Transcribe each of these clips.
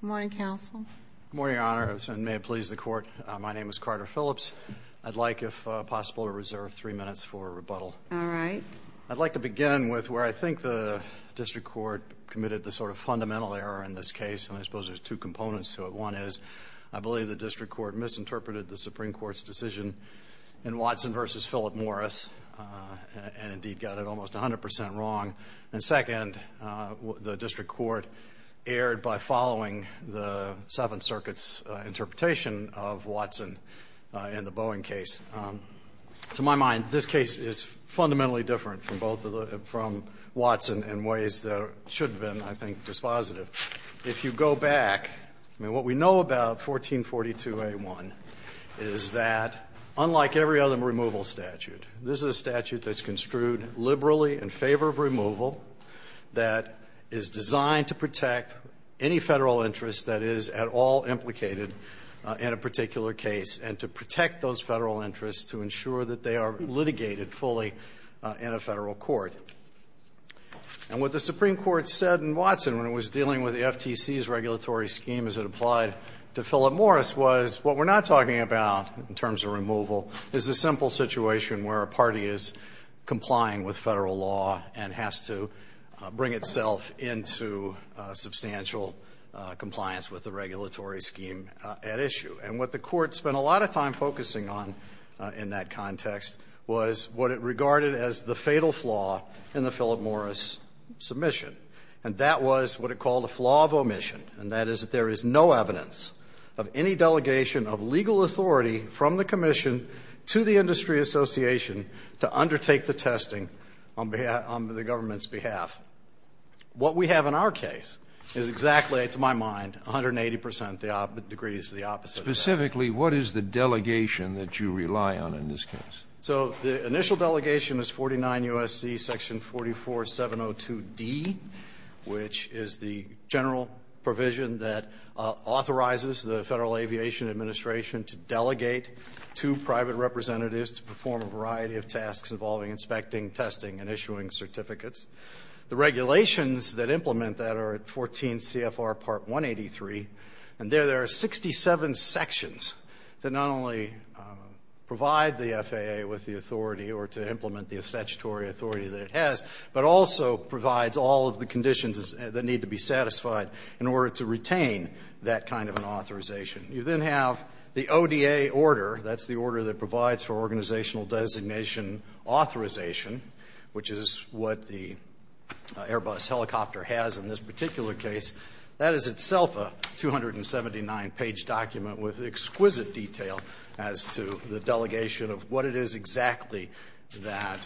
Good morning, Your Honor, and may it please the Court, my name is Carter Phillips. I'd like, if possible, to reserve three minutes for rebuttal. I'd like to begin with where I think the District Court committed the sort of fundamental error in this case, and I suppose there's two components to it. One is, I believe the District Court misinterpreted the Supreme Court's decision in Watson v. Philip Morris, and indeed got it almost 100% wrong, and second, the District Court erred by following the Seventh Circuit's interpretation of Watson in the Boeing case. To my mind, this case is fundamentally different from Watson in ways that should have been, I think, dispositive. But if you go back, I mean, what we know about 1442a1 is that, unlike every other removal statute, this is a statute that's construed liberally in favor of removal, that is designed to protect any Federal interest that is at all implicated in a particular case, and to protect those Federal interests to ensure that they are litigated fully in a Federal court. And what the Supreme Court said in Watson when it was dealing with the FTC's regulatory scheme as it applied to Philip Morris was, what we're not talking about in terms of removal is a simple situation where a party is complying with Federal law and has to bring itself into substantial compliance with the regulatory scheme at issue. And what the Court spent a lot of time focusing on in that context was what it regarded as the fatal flaw in the Philip Morris submission, and that was what it called a flaw of omission, and that is that there is no evidence of any delegation of legal authority from the Commission to the Industry Association to undertake the testing on the government's behalf. What we have in our case is exactly, to my mind, 180 percent, the degrees of the opposite. Specifically, what is the delegation that you rely on in this case? So the initial delegation is 49 U.S.C. section 44702D, which is the general provision that authorizes the Federal Aviation Administration to delegate two private representatives to perform a variety of tasks involving inspecting, testing, and issuing certificates. The regulations that implement that are at 14 CFR part 183, and there there are 67 sections that not only provide the FAA with the authority or to implement the statutory authority that it has, but also provides all of the conditions that need to be satisfied in order to retain that kind of an authorization. You then have the ODA order. That's the order that provides for organizational designation authorization, which is what the Airbus helicopter has in this particular case. That is itself a 279-page document with exquisite detail as to the delegation of what it is exactly that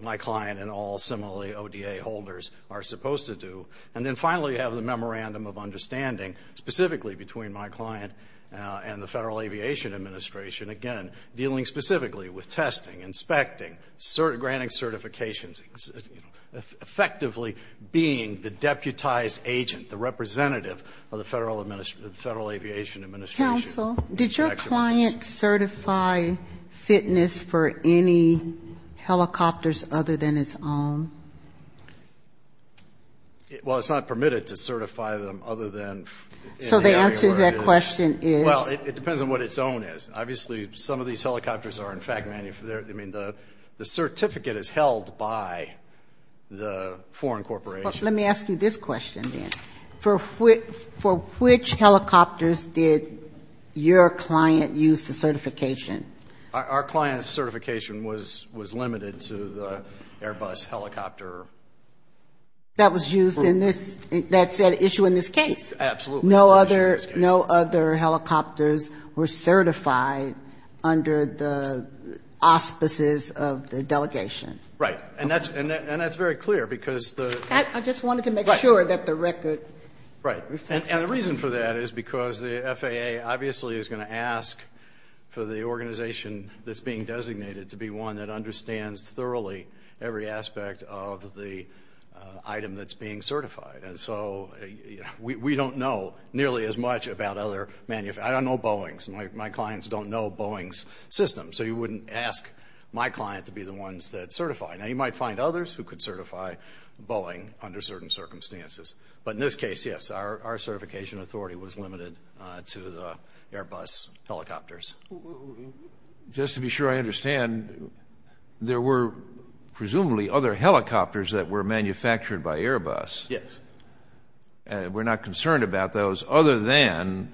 my client and all similarly ODA holders are supposed to do. And then finally, you have the memorandum of understanding, specifically between my client and the Federal Aviation Administration. Again, dealing specifically with testing, inspecting, granting certifications, effectively being the deputized agent, the representative of the Federal Aviation Administration. Counsel, did your client certify fitness for any helicopters other than its own? Well, it's not permitted to certify them other than. So the answer to that question is? Well, it depends on what its own is. Obviously, some of these helicopters are in fact, the certificate is held by the foreign corporation. Let me ask you this question then. For which helicopters did your client use the certification? Our client's certification was limited to the Airbus helicopter. That was used in this, that issue in this case? Absolutely. No other helicopters were certified under the auspices of the delegation. Right. And that's very clear because the... I just wanted to make sure that the record... Right. And the reason for that is because the FAA obviously is going to ask for the organization that's being designated to be one that understands thoroughly every aspect of the item that's being certified. And so we don't know nearly as much about other... I don't know Boeing. My clients don't know Boeing's system. So you wouldn't ask my client to be the ones that certify. Now, you might find others who could certify Boeing under certain circumstances. But in this case, yes, our certification authority was limited to the Airbus helicopters. Just to be sure I understand, there were presumably other helicopters that were manufactured by Airbus. Yes. We're not concerned about those other than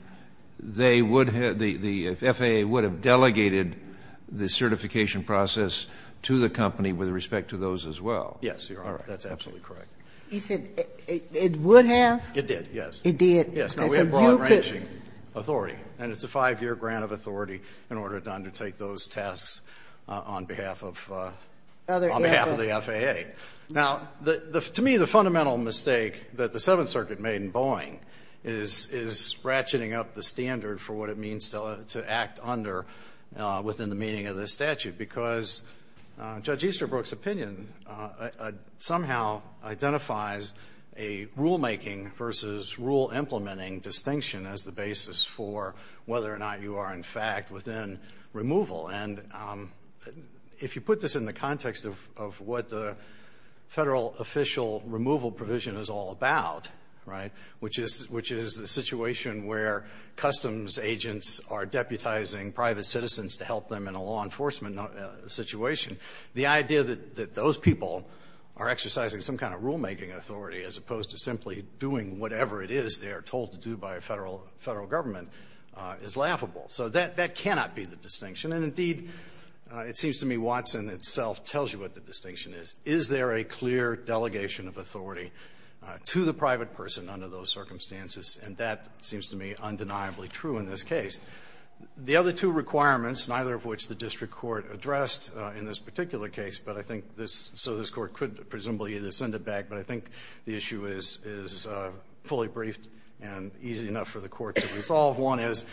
they would have, the FAA would have delegated the certification process to the company with respect to those as well. Yes, Your Honor. That's absolutely correct. You said it would have? It did, yes. It did. Yes. No, we have broad-ranging authority. And it's a 5-year grant of authority in order to undertake those tasks on behalf of... Other Airbus. On behalf of the FAA. Now, to me, the fundamental mistake that the Seventh Circuit made in Boeing is ratcheting up the standard for what it means to act under within the meaning of this statute. Because Judge Easterbrook's opinion somehow identifies a rule-making versus rule-implementing distinction as the basis for whether or not you are, in fact, within removal. And if you put this in the context of what the federal official removal provision is all about, right, which is the situation where customs agents are deputizing private citizens to help them in a law enforcement situation, the idea that those people are exercising some kind of rule-making authority as opposed to simply doing whatever it is they are told to do by a federal government is laughable. So that cannot be the distinction. And, indeed, it seems to me Watson itself tells you what the distinction is. Is there a clear delegation of authority to the private person under those circumstances? And that seems to me undeniably true in this case. The other two requirements, neither of which the district court addressed in this particular case, but I think this, so this court could presumably either send it back, but I think the issue is fully briefed and easy enough for the court to resolve. One is,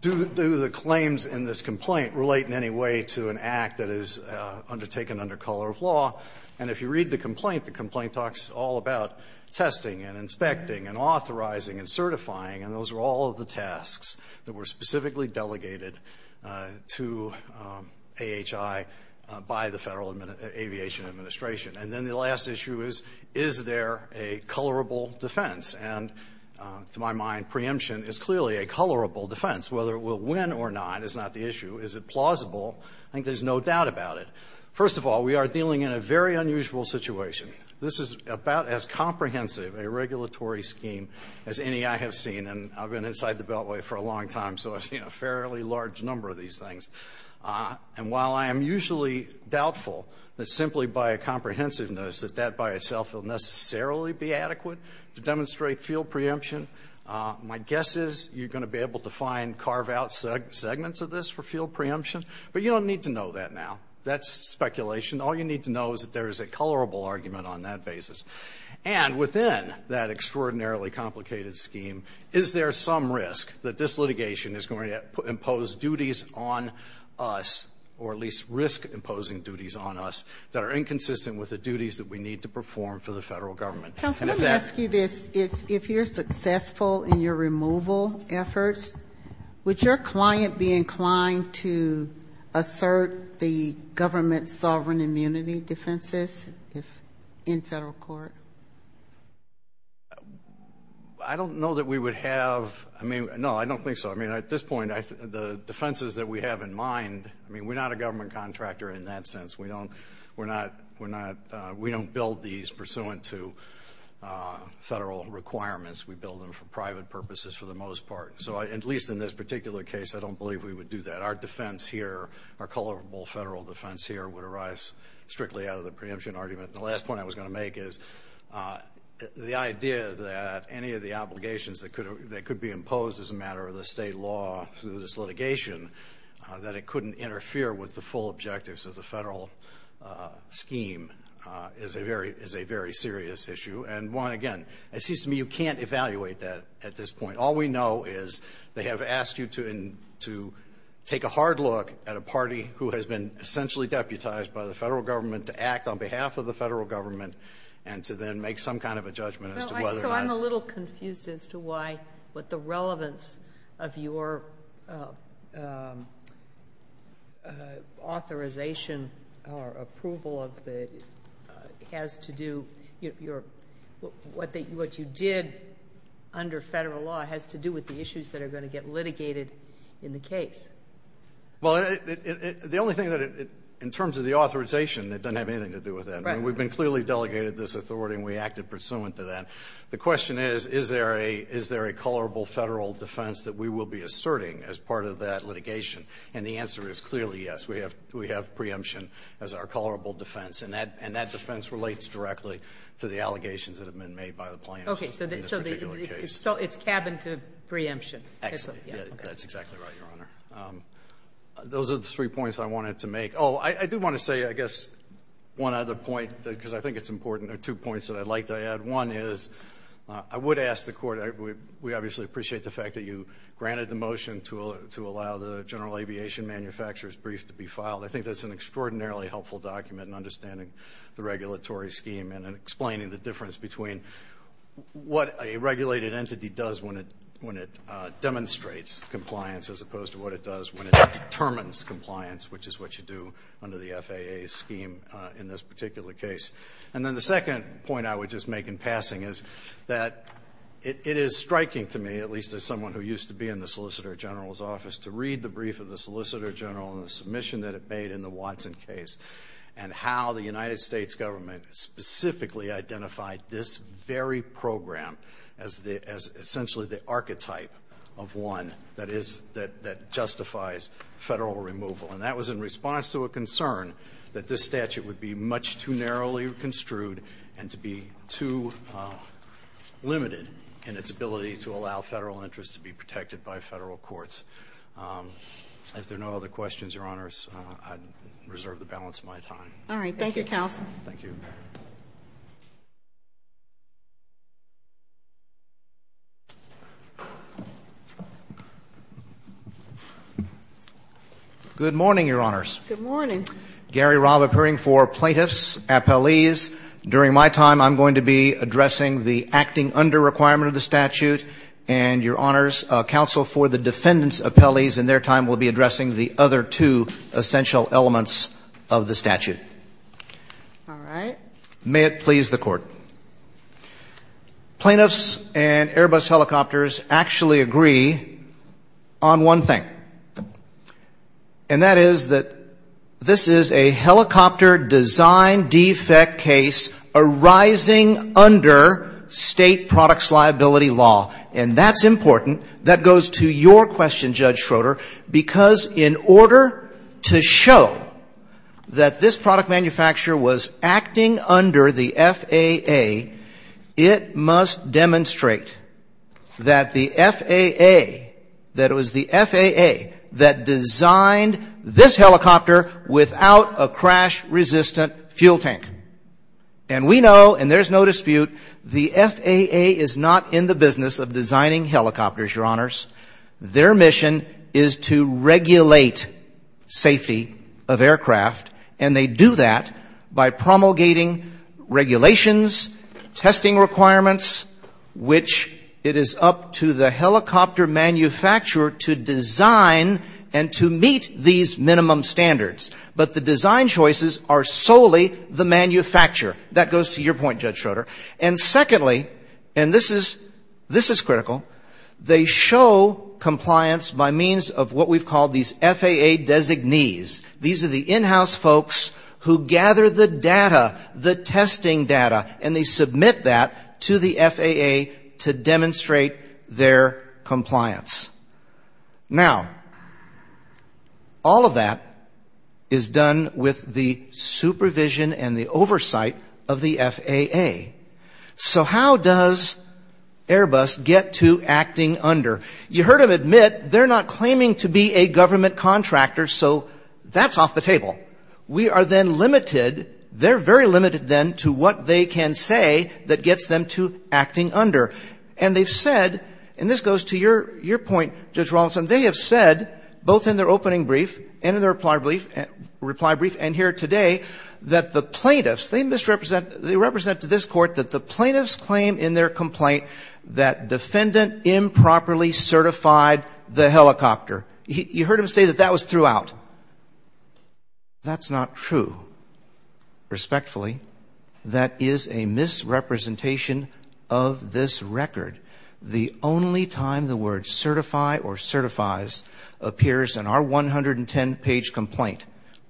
do the claims in this complaint relate in any way to an act that is undertaken under color of law? And if you read the complaint, the complaint talks all about testing and inspecting and authorizing and certifying. And those are all of the tasks that were specifically delegated to AHI by the Federal Aviation Administration. And then the last issue is, is there a colorable defense? And to my mind, preemption is clearly a colorable defense. Whether it will win or not is not the issue. Is it plausible? I think there's no doubt about it. First of all, we are dealing in a very unusual situation. This is about as comprehensive a regulatory scheme as any I have seen. And I've been inside the Beltway for a long time, so I've seen a fairly large number of these things. And while I am usually doubtful that simply by a comprehensiveness that that by itself will necessarily be adequate to demonstrate field preemption, my guess is you're going to be able to find carve-out segments of this for field preemption. But you don't need to know that now. That's speculation. All you need to know is that there is a colorable argument on that basis. And within that extraordinarily complicated scheme, is there some risk that this litigation is going to impose duties on us, or at least risk imposing duties on us, that are inconsistent with the duties that we need to perform for the federal government? Counsel, let me ask you this. If you're successful in your removal efforts, would your client be inclined to assert the government's sovereign immunity defenses in federal court? I don't know that we would have. I mean, no, I don't think so. I mean, at this point, the defenses that we have in mind, I mean, we're not a government contractor in that sense. We don't build these pursuant to federal requirements. We build them for private purposes for the most part. So at least in this particular case, I don't believe we would do that. Our defense here, our colorable federal defense here, would arise strictly out of the preemption argument. The last point I was going to make is the idea that any of the obligations that could be imposed as a matter of the state law through this litigation, that it couldn't interfere with the full objectives of the federal scheme, is a very serious issue. And one, again, it seems to me you can't evaluate that at this point. All we know is they have asked you to take a hard look at a party who has been essentially deputized by the federal government, to act on behalf of the federal government, and to then make some kind of a judgment as to whether or not. I'm a little confused as to why, what the relevance of your authorization or approval of the, has to do, what you did under federal law has to do with the issues that are going to get litigated in the case. Well, the only thing that it, in terms of the authorization, it doesn't have anything to do with that. Right. I mean, we've been clearly delegated this authority and we acted pursuant to that. The question is, is there a, is there a colorable federal defense that we will be asserting as part of that litigation? And the answer is clearly yes. We have, we have preemption as our colorable defense. And that, and that defense relates directly to the allegations that have been made by the plaintiffs in this particular case. Okay. So it's cabin to preemption. Exactly. That's exactly right, Your Honor. Those are the three points I wanted to make. Oh, I do want to say, I guess, one other point, because I think it's important, there are two points that I'd like to add. One is, I would ask the Court, we obviously appreciate the fact that you granted the motion to allow the general aviation manufacturer's brief to be filed. I think that's an extraordinarily helpful document in understanding the regulatory scheme and in explaining the difference between what a regulated entity does when it demonstrates compliance as opposed to what it does when it determines compliance, which is what you do under the FAA's scheme in this particular case. And then the second point I would just make in passing is that it is striking to me, at least as someone who used to be in the Solicitor General's office, to read the brief of the Solicitor General and the submission that it made in the Watson case, and how the United States Government specifically identified this very program as the, as essentially the archetype of one that is, that, that justifies Federal removal. And that was in response to a concern that this statute would be much too narrowly construed and to be too limited in its ability to allow Federal interests to be protected by Federal courts. If there are no other questions, Your Honors, I reserve the balance of my time. All right. Thank you, counsel. Good morning, Your Honors. Good morning. Gary Robb appearing for plaintiffs, appellees. During my time I'm going to be addressing the acting under requirement of the statute and, Your Honors, counsel for the defendants' appellees. In their time we'll be addressing the other two essential elements of the statute. All right. May it please the Court. Plaintiffs and Airbus helicopters actually agree on one thing. And that is that this is a helicopter design defect case arising under state products liability law. And that's important. That goes to your question, Judge Schroeder, because in order to show that this product manufacturer was acting under the FAA, it must demonstrate that the FAA, that it was the FAA that designed this helicopter without a crash-resistant fuel tank. And we know, and there's no dispute, the FAA is not in the business of designing helicopters, Your Honors. Their mission is to regulate safety of aircraft. And they do that by promulgating regulations, testing requirements, which it is up to the helicopter manufacturer to design and to meet these minimum standards. But the design choices are solely the manufacturer. That goes to your point, Judge Schroeder. And secondly, and this is critical, they show compliance by means of what we've called these FAA designees. These are the in-house folks who gather the data, the testing data, and they submit that to the FAA to demonstrate their compliance. Now, all of that is done with the supervision and the oversight of the FAA. So how does Airbus get to acting under? You heard them admit they're not claiming to be a government contractor, so that's off the table. We are then limited, they're very limited then to what they can say that gets them to acting under. And they've said, and this goes to your point, Judge Rawlinson, they have said both in their opening brief and in their reply brief and here today that the plaintiffs, they misrepresent, they represent to this court that the plaintiffs claim in their complaint that defendant improperly certified the helicopter. You heard him say that that was threw out. That's not true. Respectfully, that is a misrepresentation of this record. The only time the word certify or certifies appears in our 110-page complaint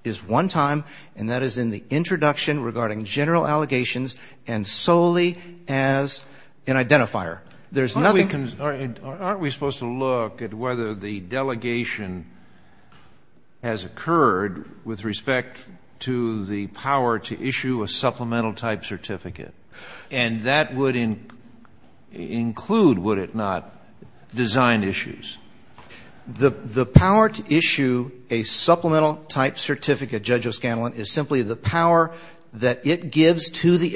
is one time, and that is in the introduction regarding general allegations and solely as an identifier. Aren't we supposed to look at whether the delegation has occurred with respect to the power to issue a supplemental type certificate? And that would include, would it not, design issues? The power to issue a supplemental type certificate, Judge O'Scanlan, is simply the power that it gives to the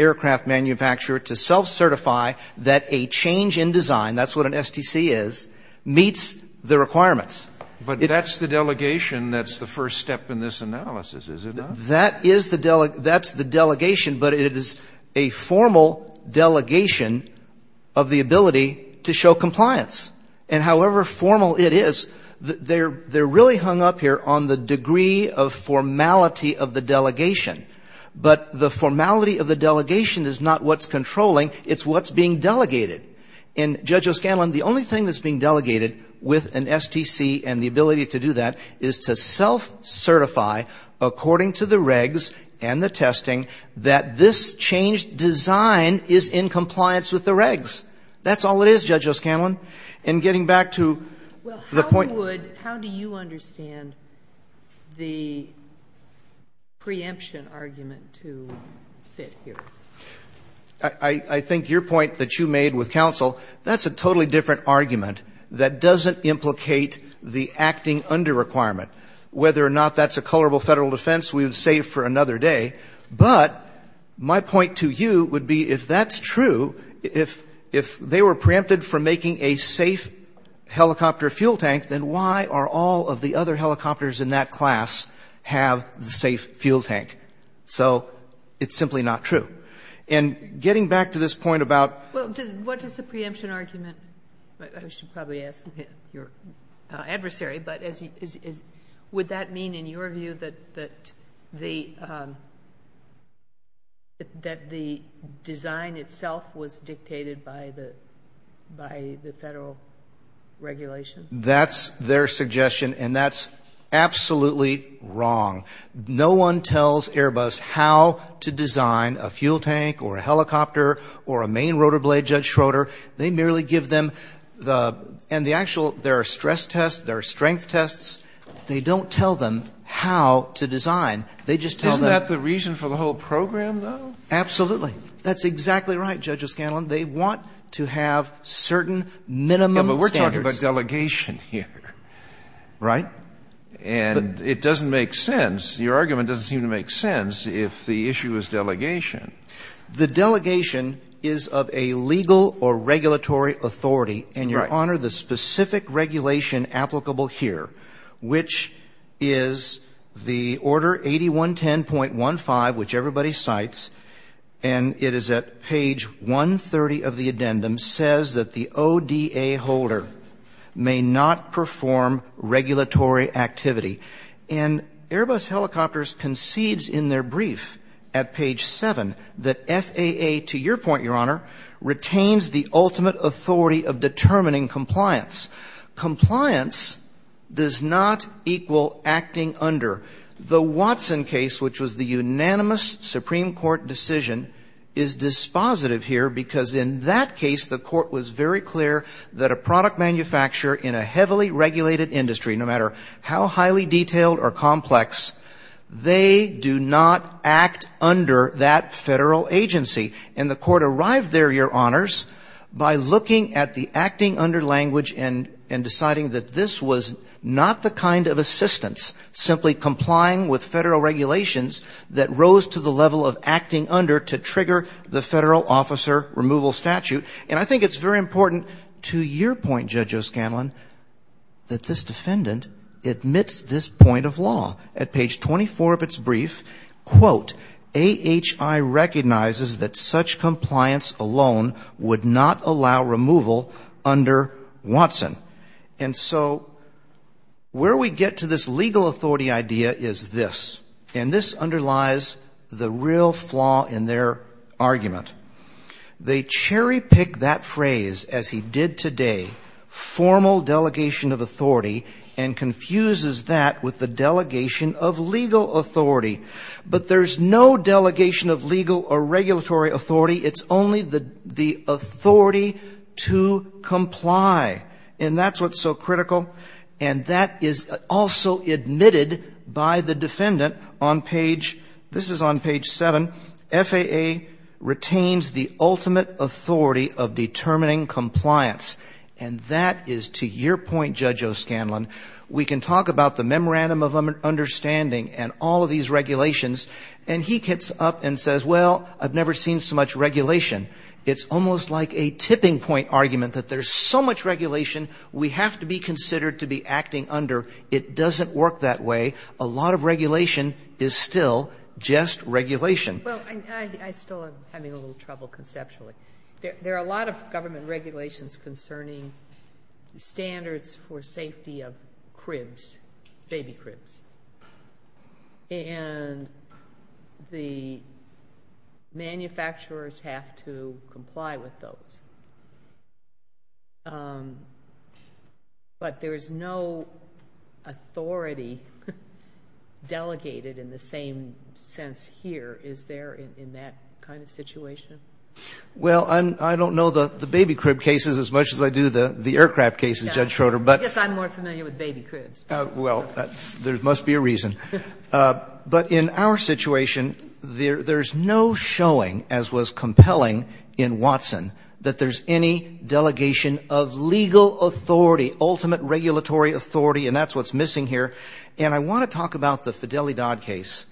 change in design, that's what an STC is, meets the requirements. But that's the delegation that's the first step in this analysis, is it not? That is the delegation, but it is a formal delegation of the ability to show compliance. And however formal it is, they're really hung up here on the degree of formality of the delegation. But the formality of the delegation is not what's controlling, it's what's being delegated. And Judge O'Scanlan, the only thing that's being delegated with an STC and the ability to do that is to self-certify according to the regs and the testing that this change design is in compliance with the regs. That's all it is, Judge O'Scanlan. And getting back to the point. Well, how would, how do you understand the preemption argument to fit here? I think your point that you made with counsel, that's a totally different argument that doesn't implicate the acting under requirement. Whether or not that's a colorable federal defense, we would save for another day. But my point to you would be if that's true, if they were preempted from making a safe helicopter fuel tank, then why are all of the other helicopters in that class have the safe fuel tank? So it's simply not true. And getting back to this point about. Well, what is the preemption argument? I should probably ask your adversary. But would that mean in your view that the design itself was dictated by the federal regulation? That's their suggestion, and that's absolutely wrong. No one tells Airbus how to design a fuel tank or a helicopter or a main rotor blade, Judge Schroeder. They merely give them the, and the actual, there are stress tests, there are strength tests. They don't tell them how to design. They just tell them. Isn't that the reason for the whole program, though? Absolutely. That's exactly right, Judge O'Scanlan. They want to have certain minimum standards. Yeah, but we're talking about delegation here. Right. And it doesn't make sense. Your argument doesn't seem to make sense if the issue is delegation. The delegation is of a legal or regulatory authority. Right. And, Your Honor, the specific regulation applicable here, which is the Order 8110.15, which everybody cites, and it is at page 130 of the addendum, says that the ODA holder may not perform regulatory activity. And Airbus Helicopters concedes in their brief at page 7 that FAA, to your point, Your Honor, retains the ultimate authority of determining compliance. Compliance does not equal acting under. The Watson case, which was the unanimous Supreme Court decision, is dispositive here because in that case the court was very clear that a product manufacturer in a heavily regulated industry, no matter how highly detailed or complex, they do not act under that federal agency. And the court arrived there, Your Honors, by looking at the acting under language and deciding that this was not the kind of assistance, simply complying with federal regulations, that rose to the level of acting under to trigger the federal officer removal statute. And I think it's very important to your point, Judge O'Scanlan, that this defendant admits this point of law. At page 24 of its brief, quote, AHI recognizes that such compliance alone would not allow removal under Watson. And so where we get to this legal authority idea is this, and this underlies the real flaw in their argument. They cherry pick that phrase, as he did today, formal delegation of authority, and confuses that with the delegation of legal authority. But there's no delegation of legal or regulatory authority. It's only the authority to comply. And that's what's so critical. And that is also admitted by the defendant on page, this is on page 7, FAA retains the ultimate authority of determining compliance. And that is, to your point, Judge O'Scanlan, we can talk about the memorandum of understanding and all of these regulations, and he gets up and says, well, I've never seen so much regulation. It's almost like a tipping point argument that there's so much regulation we have to be considered to be acting under. It doesn't work that way. A lot of regulation is still just regulation. Well, I still am having a little trouble conceptually. There are a lot of government regulations concerning standards for safety of cribs, baby cribs. And the manufacturers have to comply with those. But there's no authority delegated in the same sense here, is there, in that kind of situation? Well, I don't know the baby crib cases as much as I do the aircraft cases, Judge Schroeder. I guess I'm more familiar with baby cribs. But in our situation, there's no showing, as was compelling in Watson, that there's any delegation of legal authority, ultimate regulatory authority, and that's what's missing here. And I want to talk about the Fidelidad case.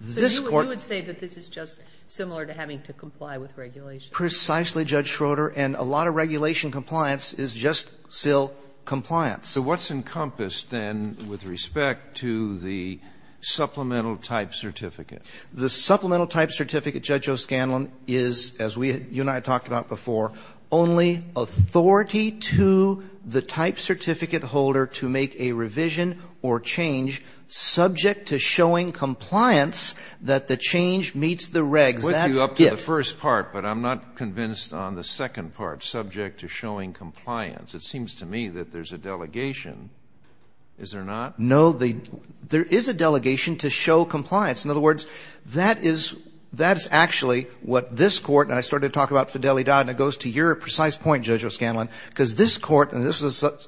This Court ---- So you would say that this is just similar to having to comply with regulation? Precisely, Judge Schroeder. And a lot of regulation compliance is just still compliance. So what's encompassed, then, with respect to the supplemental type certificate? The supplemental type certificate, Judge O'Scanlan, is, as you and I talked about before, only authority to the type certificate holder to make a revision or change subject to showing compliance that the change meets the regs. That's it. I'll put you up to the first part, but I'm not convinced on the second part, subject to showing compliance. It seems to me that there's a delegation. Is there not? No. There is a delegation to show compliance. In other words, that is actually what this Court ---- And I started to talk about Fidelidad, and it goes to your precise point, Judge O'Scanlan, because this Court ---- And this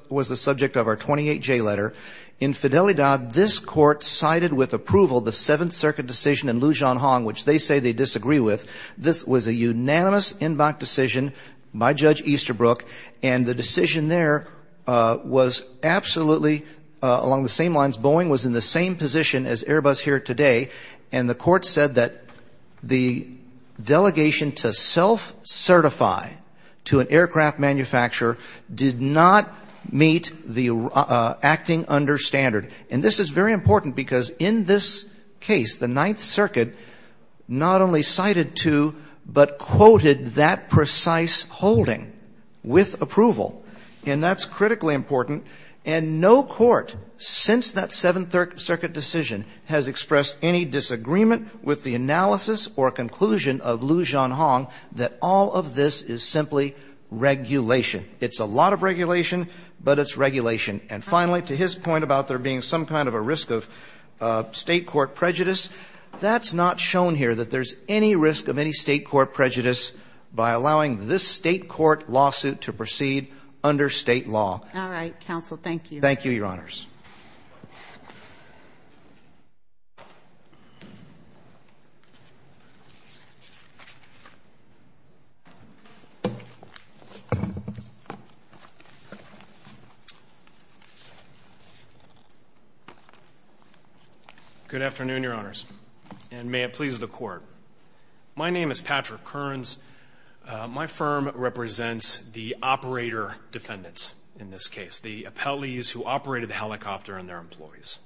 was the subject of our 28-J letter. In Fidelidad, this Court cited with approval the Seventh Circuit decision in Lujan Hong, which they say they disagree with. This was a unanimous en banc decision by Judge Easterbrook, and the decision there was absolutely along the same lines. Boeing was in the same position as Airbus here today, and the Court said that the delegation to self-certify to an aircraft manufacturer did not meet the acting under standard. And this is very important because in this case, the Ninth Circuit not only cited to, but quoted that precise holding with approval. And that's critically important. And no court since that Seventh Circuit decision has expressed any disagreement with the analysis or conclusion of Lujan Hong that all of this is simply regulation. It's a lot of regulation, but it's regulation. And finally, to his point about there being some kind of a risk of State court prejudice, that's not shown here that there's any risk of any State court prejudice by allowing this State court lawsuit to proceed under State law. All right. Counsel, thank you. Thank you, Your Honors. Good afternoon, Your Honors, and may it please the Court. My name is Patrick Kearns. My firm represents the operator defendants in this case, the appellees who operated the helicopter and their employees.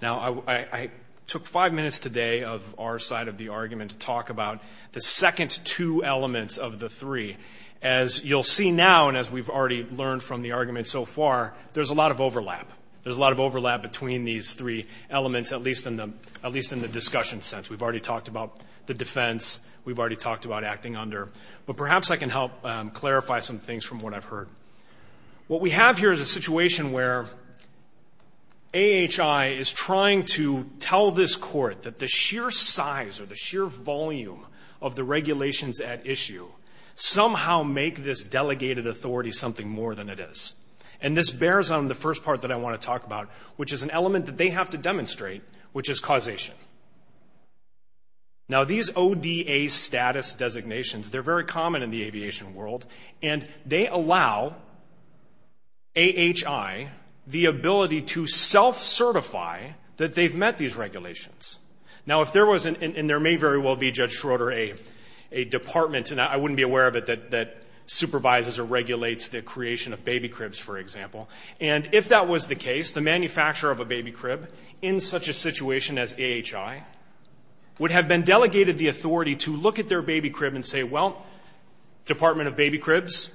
Now, I took five minutes today of our side of the argument to talk about the second two elements of the three. As you'll see now and as we've already learned from the argument so far, there's a lot of overlap. There's a lot of overlap between these three elements, at least in the discussion sense. We've already talked about the defense. We've already talked about acting under. But perhaps I can help clarify some things from what I've heard. What we have here is a situation where AHI is trying to tell this court that the sheer size or the sheer volume of the regulations at issue somehow make this delegated authority something more than it is. And this bears on the first part that I want to talk about, which is an element that they have to demonstrate, which is causation. Now, these ODA status designations, they're very common in the aviation world, and they allow AHI the ability to self-certify that they've met these regulations. Now, if there was, and there may very well be, Judge Schroeder, a department, and I wouldn't be aware of it, that supervises or regulates the creation of baby cribs, for example. And if that was the case, the manufacturer of a baby crib in such a situation as AHI would have been delegated the authority to look at their baby crib and say, well, Department of Baby Cribs,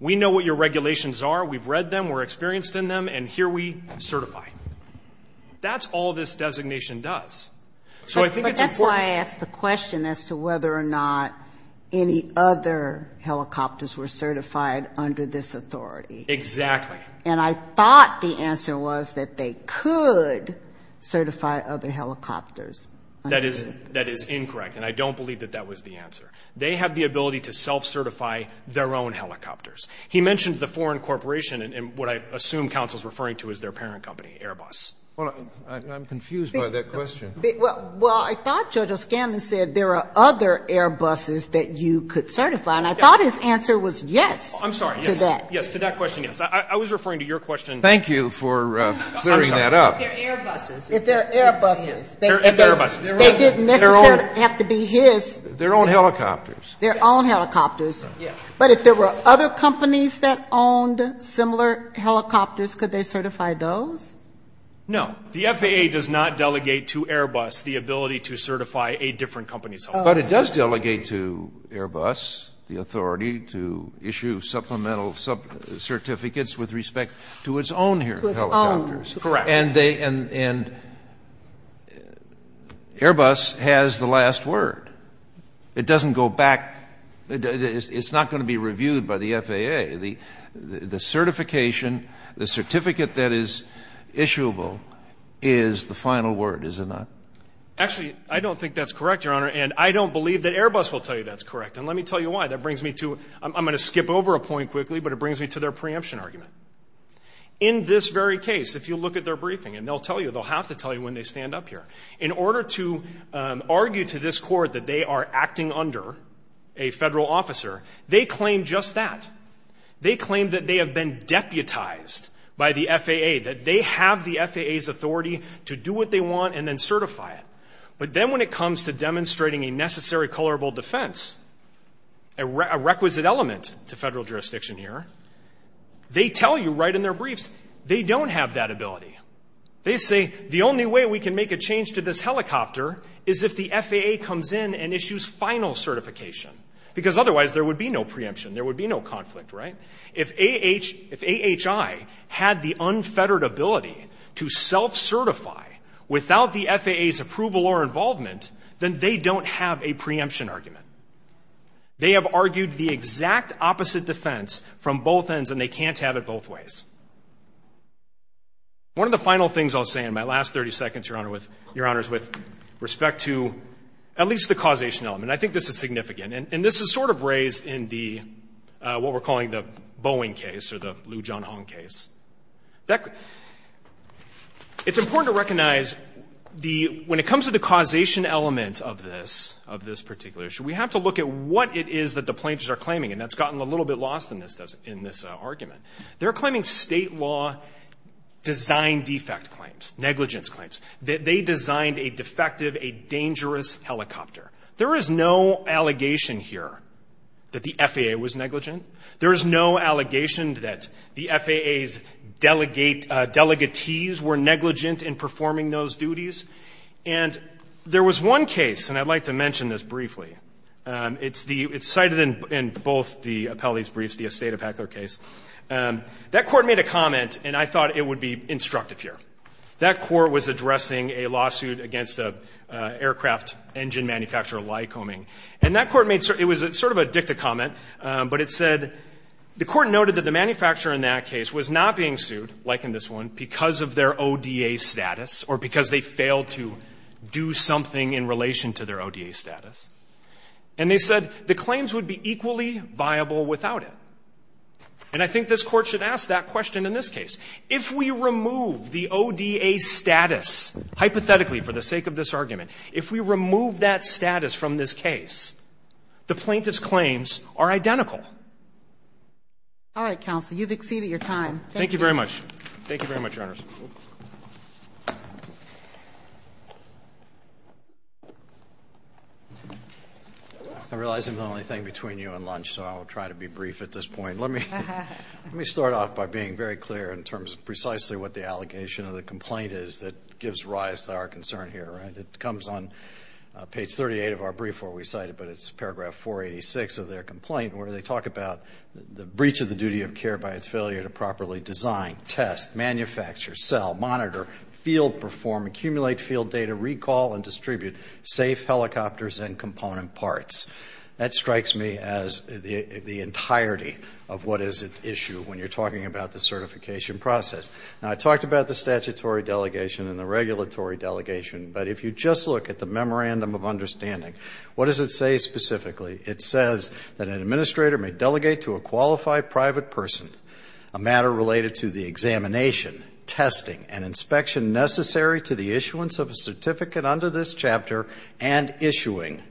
we know what your regulations are, we've read them, we're experienced in them, and here we certify. That's all this designation does. So I think it's important. But that's why I asked the question as to whether or not any other helicopters were certified under this authority. Exactly. And I thought the answer was that they could certify other helicopters. That is incorrect, and I don't believe that that was the answer. They have the ability to self-certify their own helicopters. He mentioned the foreign corporation and what I assume counsel's referring to as their parent company, Airbus. Well, I'm confused by that question. Well, I thought Judge O'Scanlan said there are other Airbuses that you could certify, and I thought his answer was yes to that. I'm sorry. Yes, to that question, yes. I was referring to your question. Thank you for clearing that up. They're Airbuses. They're Airbuses. They're Airbuses. They didn't necessarily have to be his. Their own helicopters. Their own helicopters. Yes. But if there were other companies that owned similar helicopters, could they certify those? No. The FAA does not delegate to Airbus the ability to certify a different company's helicopter. But it does delegate to Airbus the authority to issue supplemental certificates with respect to its own helicopters. Correct. And Airbus has the last word. It doesn't go back. It's not going to be reviewed by the FAA. The certification, the certificate that is issuable is the final word, is it not? Actually, I don't think that's correct, Your Honor, and I don't believe that Airbus will tell you that's correct. And let me tell you why. That brings me to – I'm going to skip over a point quickly, but it brings me to their preemption argument. In this very case, if you look at their briefing, and they'll tell you, they'll have to tell you when they stand up here, in order to argue to this court that they are acting under a federal officer, they claim just that. They claim that they have been deputized by the FAA, that they have the FAA's authority to do what they want and then certify it. But then when it comes to demonstrating a necessary colorable defense, a requisite element to federal jurisdiction here, they tell you right in their briefs they don't have that ability. They say the only way we can make a change to this helicopter is if the FAA comes in and issues final certification, because otherwise there would be no preemption. There would be no conflict, right? If AHI had the unfettered ability to self-certify without the FAA's approval or involvement, then they don't have a preemption argument. They have argued the exact opposite defense from both ends, and they can't have it both ways. One of the final things I'll say in my last 30 seconds, Your Honor, with respect to at least the causation element, and I think this is significant, and this is sort of raised in the, what we're calling the Boeing case or the Liu Jianhong case. It's important to recognize the, when it comes to the causation element of this, of this particular issue, we have to look at what it is that the plaintiffs are claiming, and that's gotten a little bit lost in this argument. They're claiming state law design defect claims, negligence claims. They designed a defective, a dangerous helicopter. There is no allegation here that the FAA was negligent. There is no allegation that the FAA's delegatees were negligent in performing those duties. And there was one case, and I'd like to mention this briefly. It's the, it's cited in both the appellate's briefs, the Estate of Heckler case. That court made a comment, and I thought it would be instructive here. That court was addressing a lawsuit against an aircraft engine manufacturer, Lycoming. And that court made, it was sort of a dicta comment, but it said, the court noted that the manufacturer in that case was not being sued, like in this one, because of their ODA status, or because they failed to do something in relation to their ODA status. And they said, the claims would be equally viable without it. And I think this Court should ask that question in this case. If we remove the ODA status, hypothetically, for the sake of this argument, if we remove that status from this case, the plaintiffs' claims are identical. All right, counsel. You've exceeded your time. Thank you. Thank you very much. Thank you very much, Your Honors. I realize I'm the only thing between you and lunch, so I will try to be brief at this point. Let me start off by being very clear in terms of precisely what the allegation of the complaint is that gives rise to our concern here, right? It comes on page 38 of our brief where we cite it, but it's paragraph 486 of their complaint, where they talk about the breach of the duty of care by its failure to test, manufacture, sell, monitor, field perform, accumulate field data, recall, and distribute safe helicopters and component parts. That strikes me as the entirety of what is at issue when you're talking about the certification process. Now, I talked about the statutory delegation and the regulatory delegation. But if you just look at the memorandum of understanding, what does it say specifically? It says that an administrator may delegate to a qualified private person a matter related to the examination, testing, and inspection necessary to the issuance of a certificate under this chapter and issuing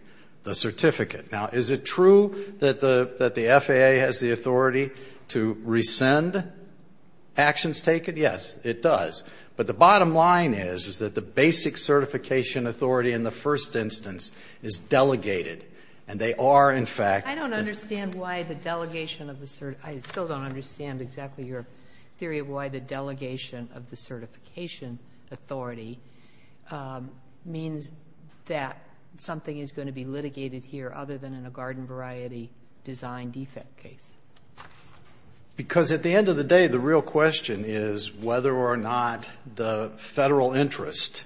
the certificate. Now, is it true that the FAA has the authority to rescind actions taken? Yes, it does. But the bottom line is, is that the basic certification authority in the first instance is delegated, and they are, in fact the ---- delegation of the certification authority means that something is going to be litigated here other than in a garden variety design defect case. Because at the end of the day, the real question is whether or not the federal interest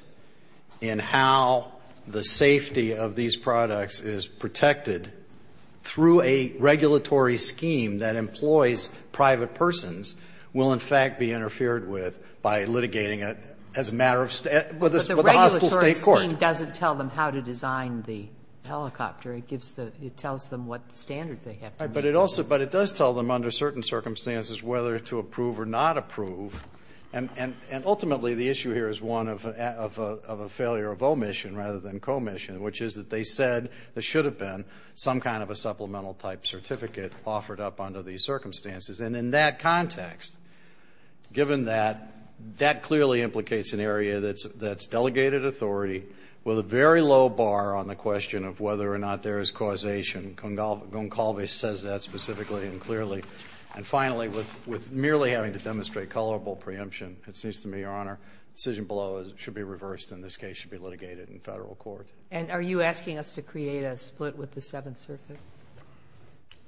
in how the safety of these products is protected through a regulatory scheme that employs private persons will, in fact, be interfered with by litigating it as a matter of ---- with a hostile State court. But the regulatory scheme doesn't tell them how to design the helicopter. It gives the ---- it tells them what standards they have to meet. Right. But it also ---- but it does tell them under certain circumstances whether to approve or not approve. And ultimately the issue here is one of a failure of omission rather than commission, which is that they said there should have been some kind of a supplemental type certificate offered up under these circumstances. And in that context, given that, that clearly implicates an area that's delegated authority with a very low bar on the question of whether or not there is causation. Goncalves says that specifically and clearly. And finally, with merely having to demonstrate colorable preemption, it seems to me, Your Honor, the decision below should be reversed and this case should be litigated in federal court. And are you asking us to create a split with the Seventh Circuit?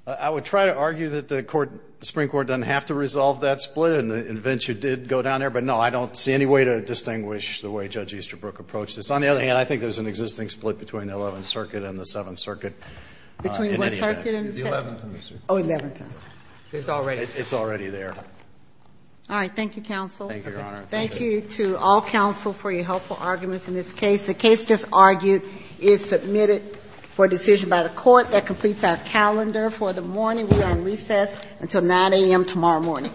I would try to argue that the court ---- the Supreme Court doesn't have to resolve that split, and the invention did go down there. But, no, I don't see any way to distinguish the way Judge Easterbrook approached this. On the other hand, I think there's an existing split between the Eleventh Circuit and the Seventh Circuit. Between what circuit and the Seventh? The Eleventh and the Seventh. Oh, Eleventh. It's already there. It's already there. All right. Thank you, counsel. Thank you, Your Honor. Thank you to all counsel for your helpful arguments in this case. The case just argued is submitted for decision by the court. That completes our calendar for the morning. We are on recess until 9 a.m. tomorrow morning. Thank you.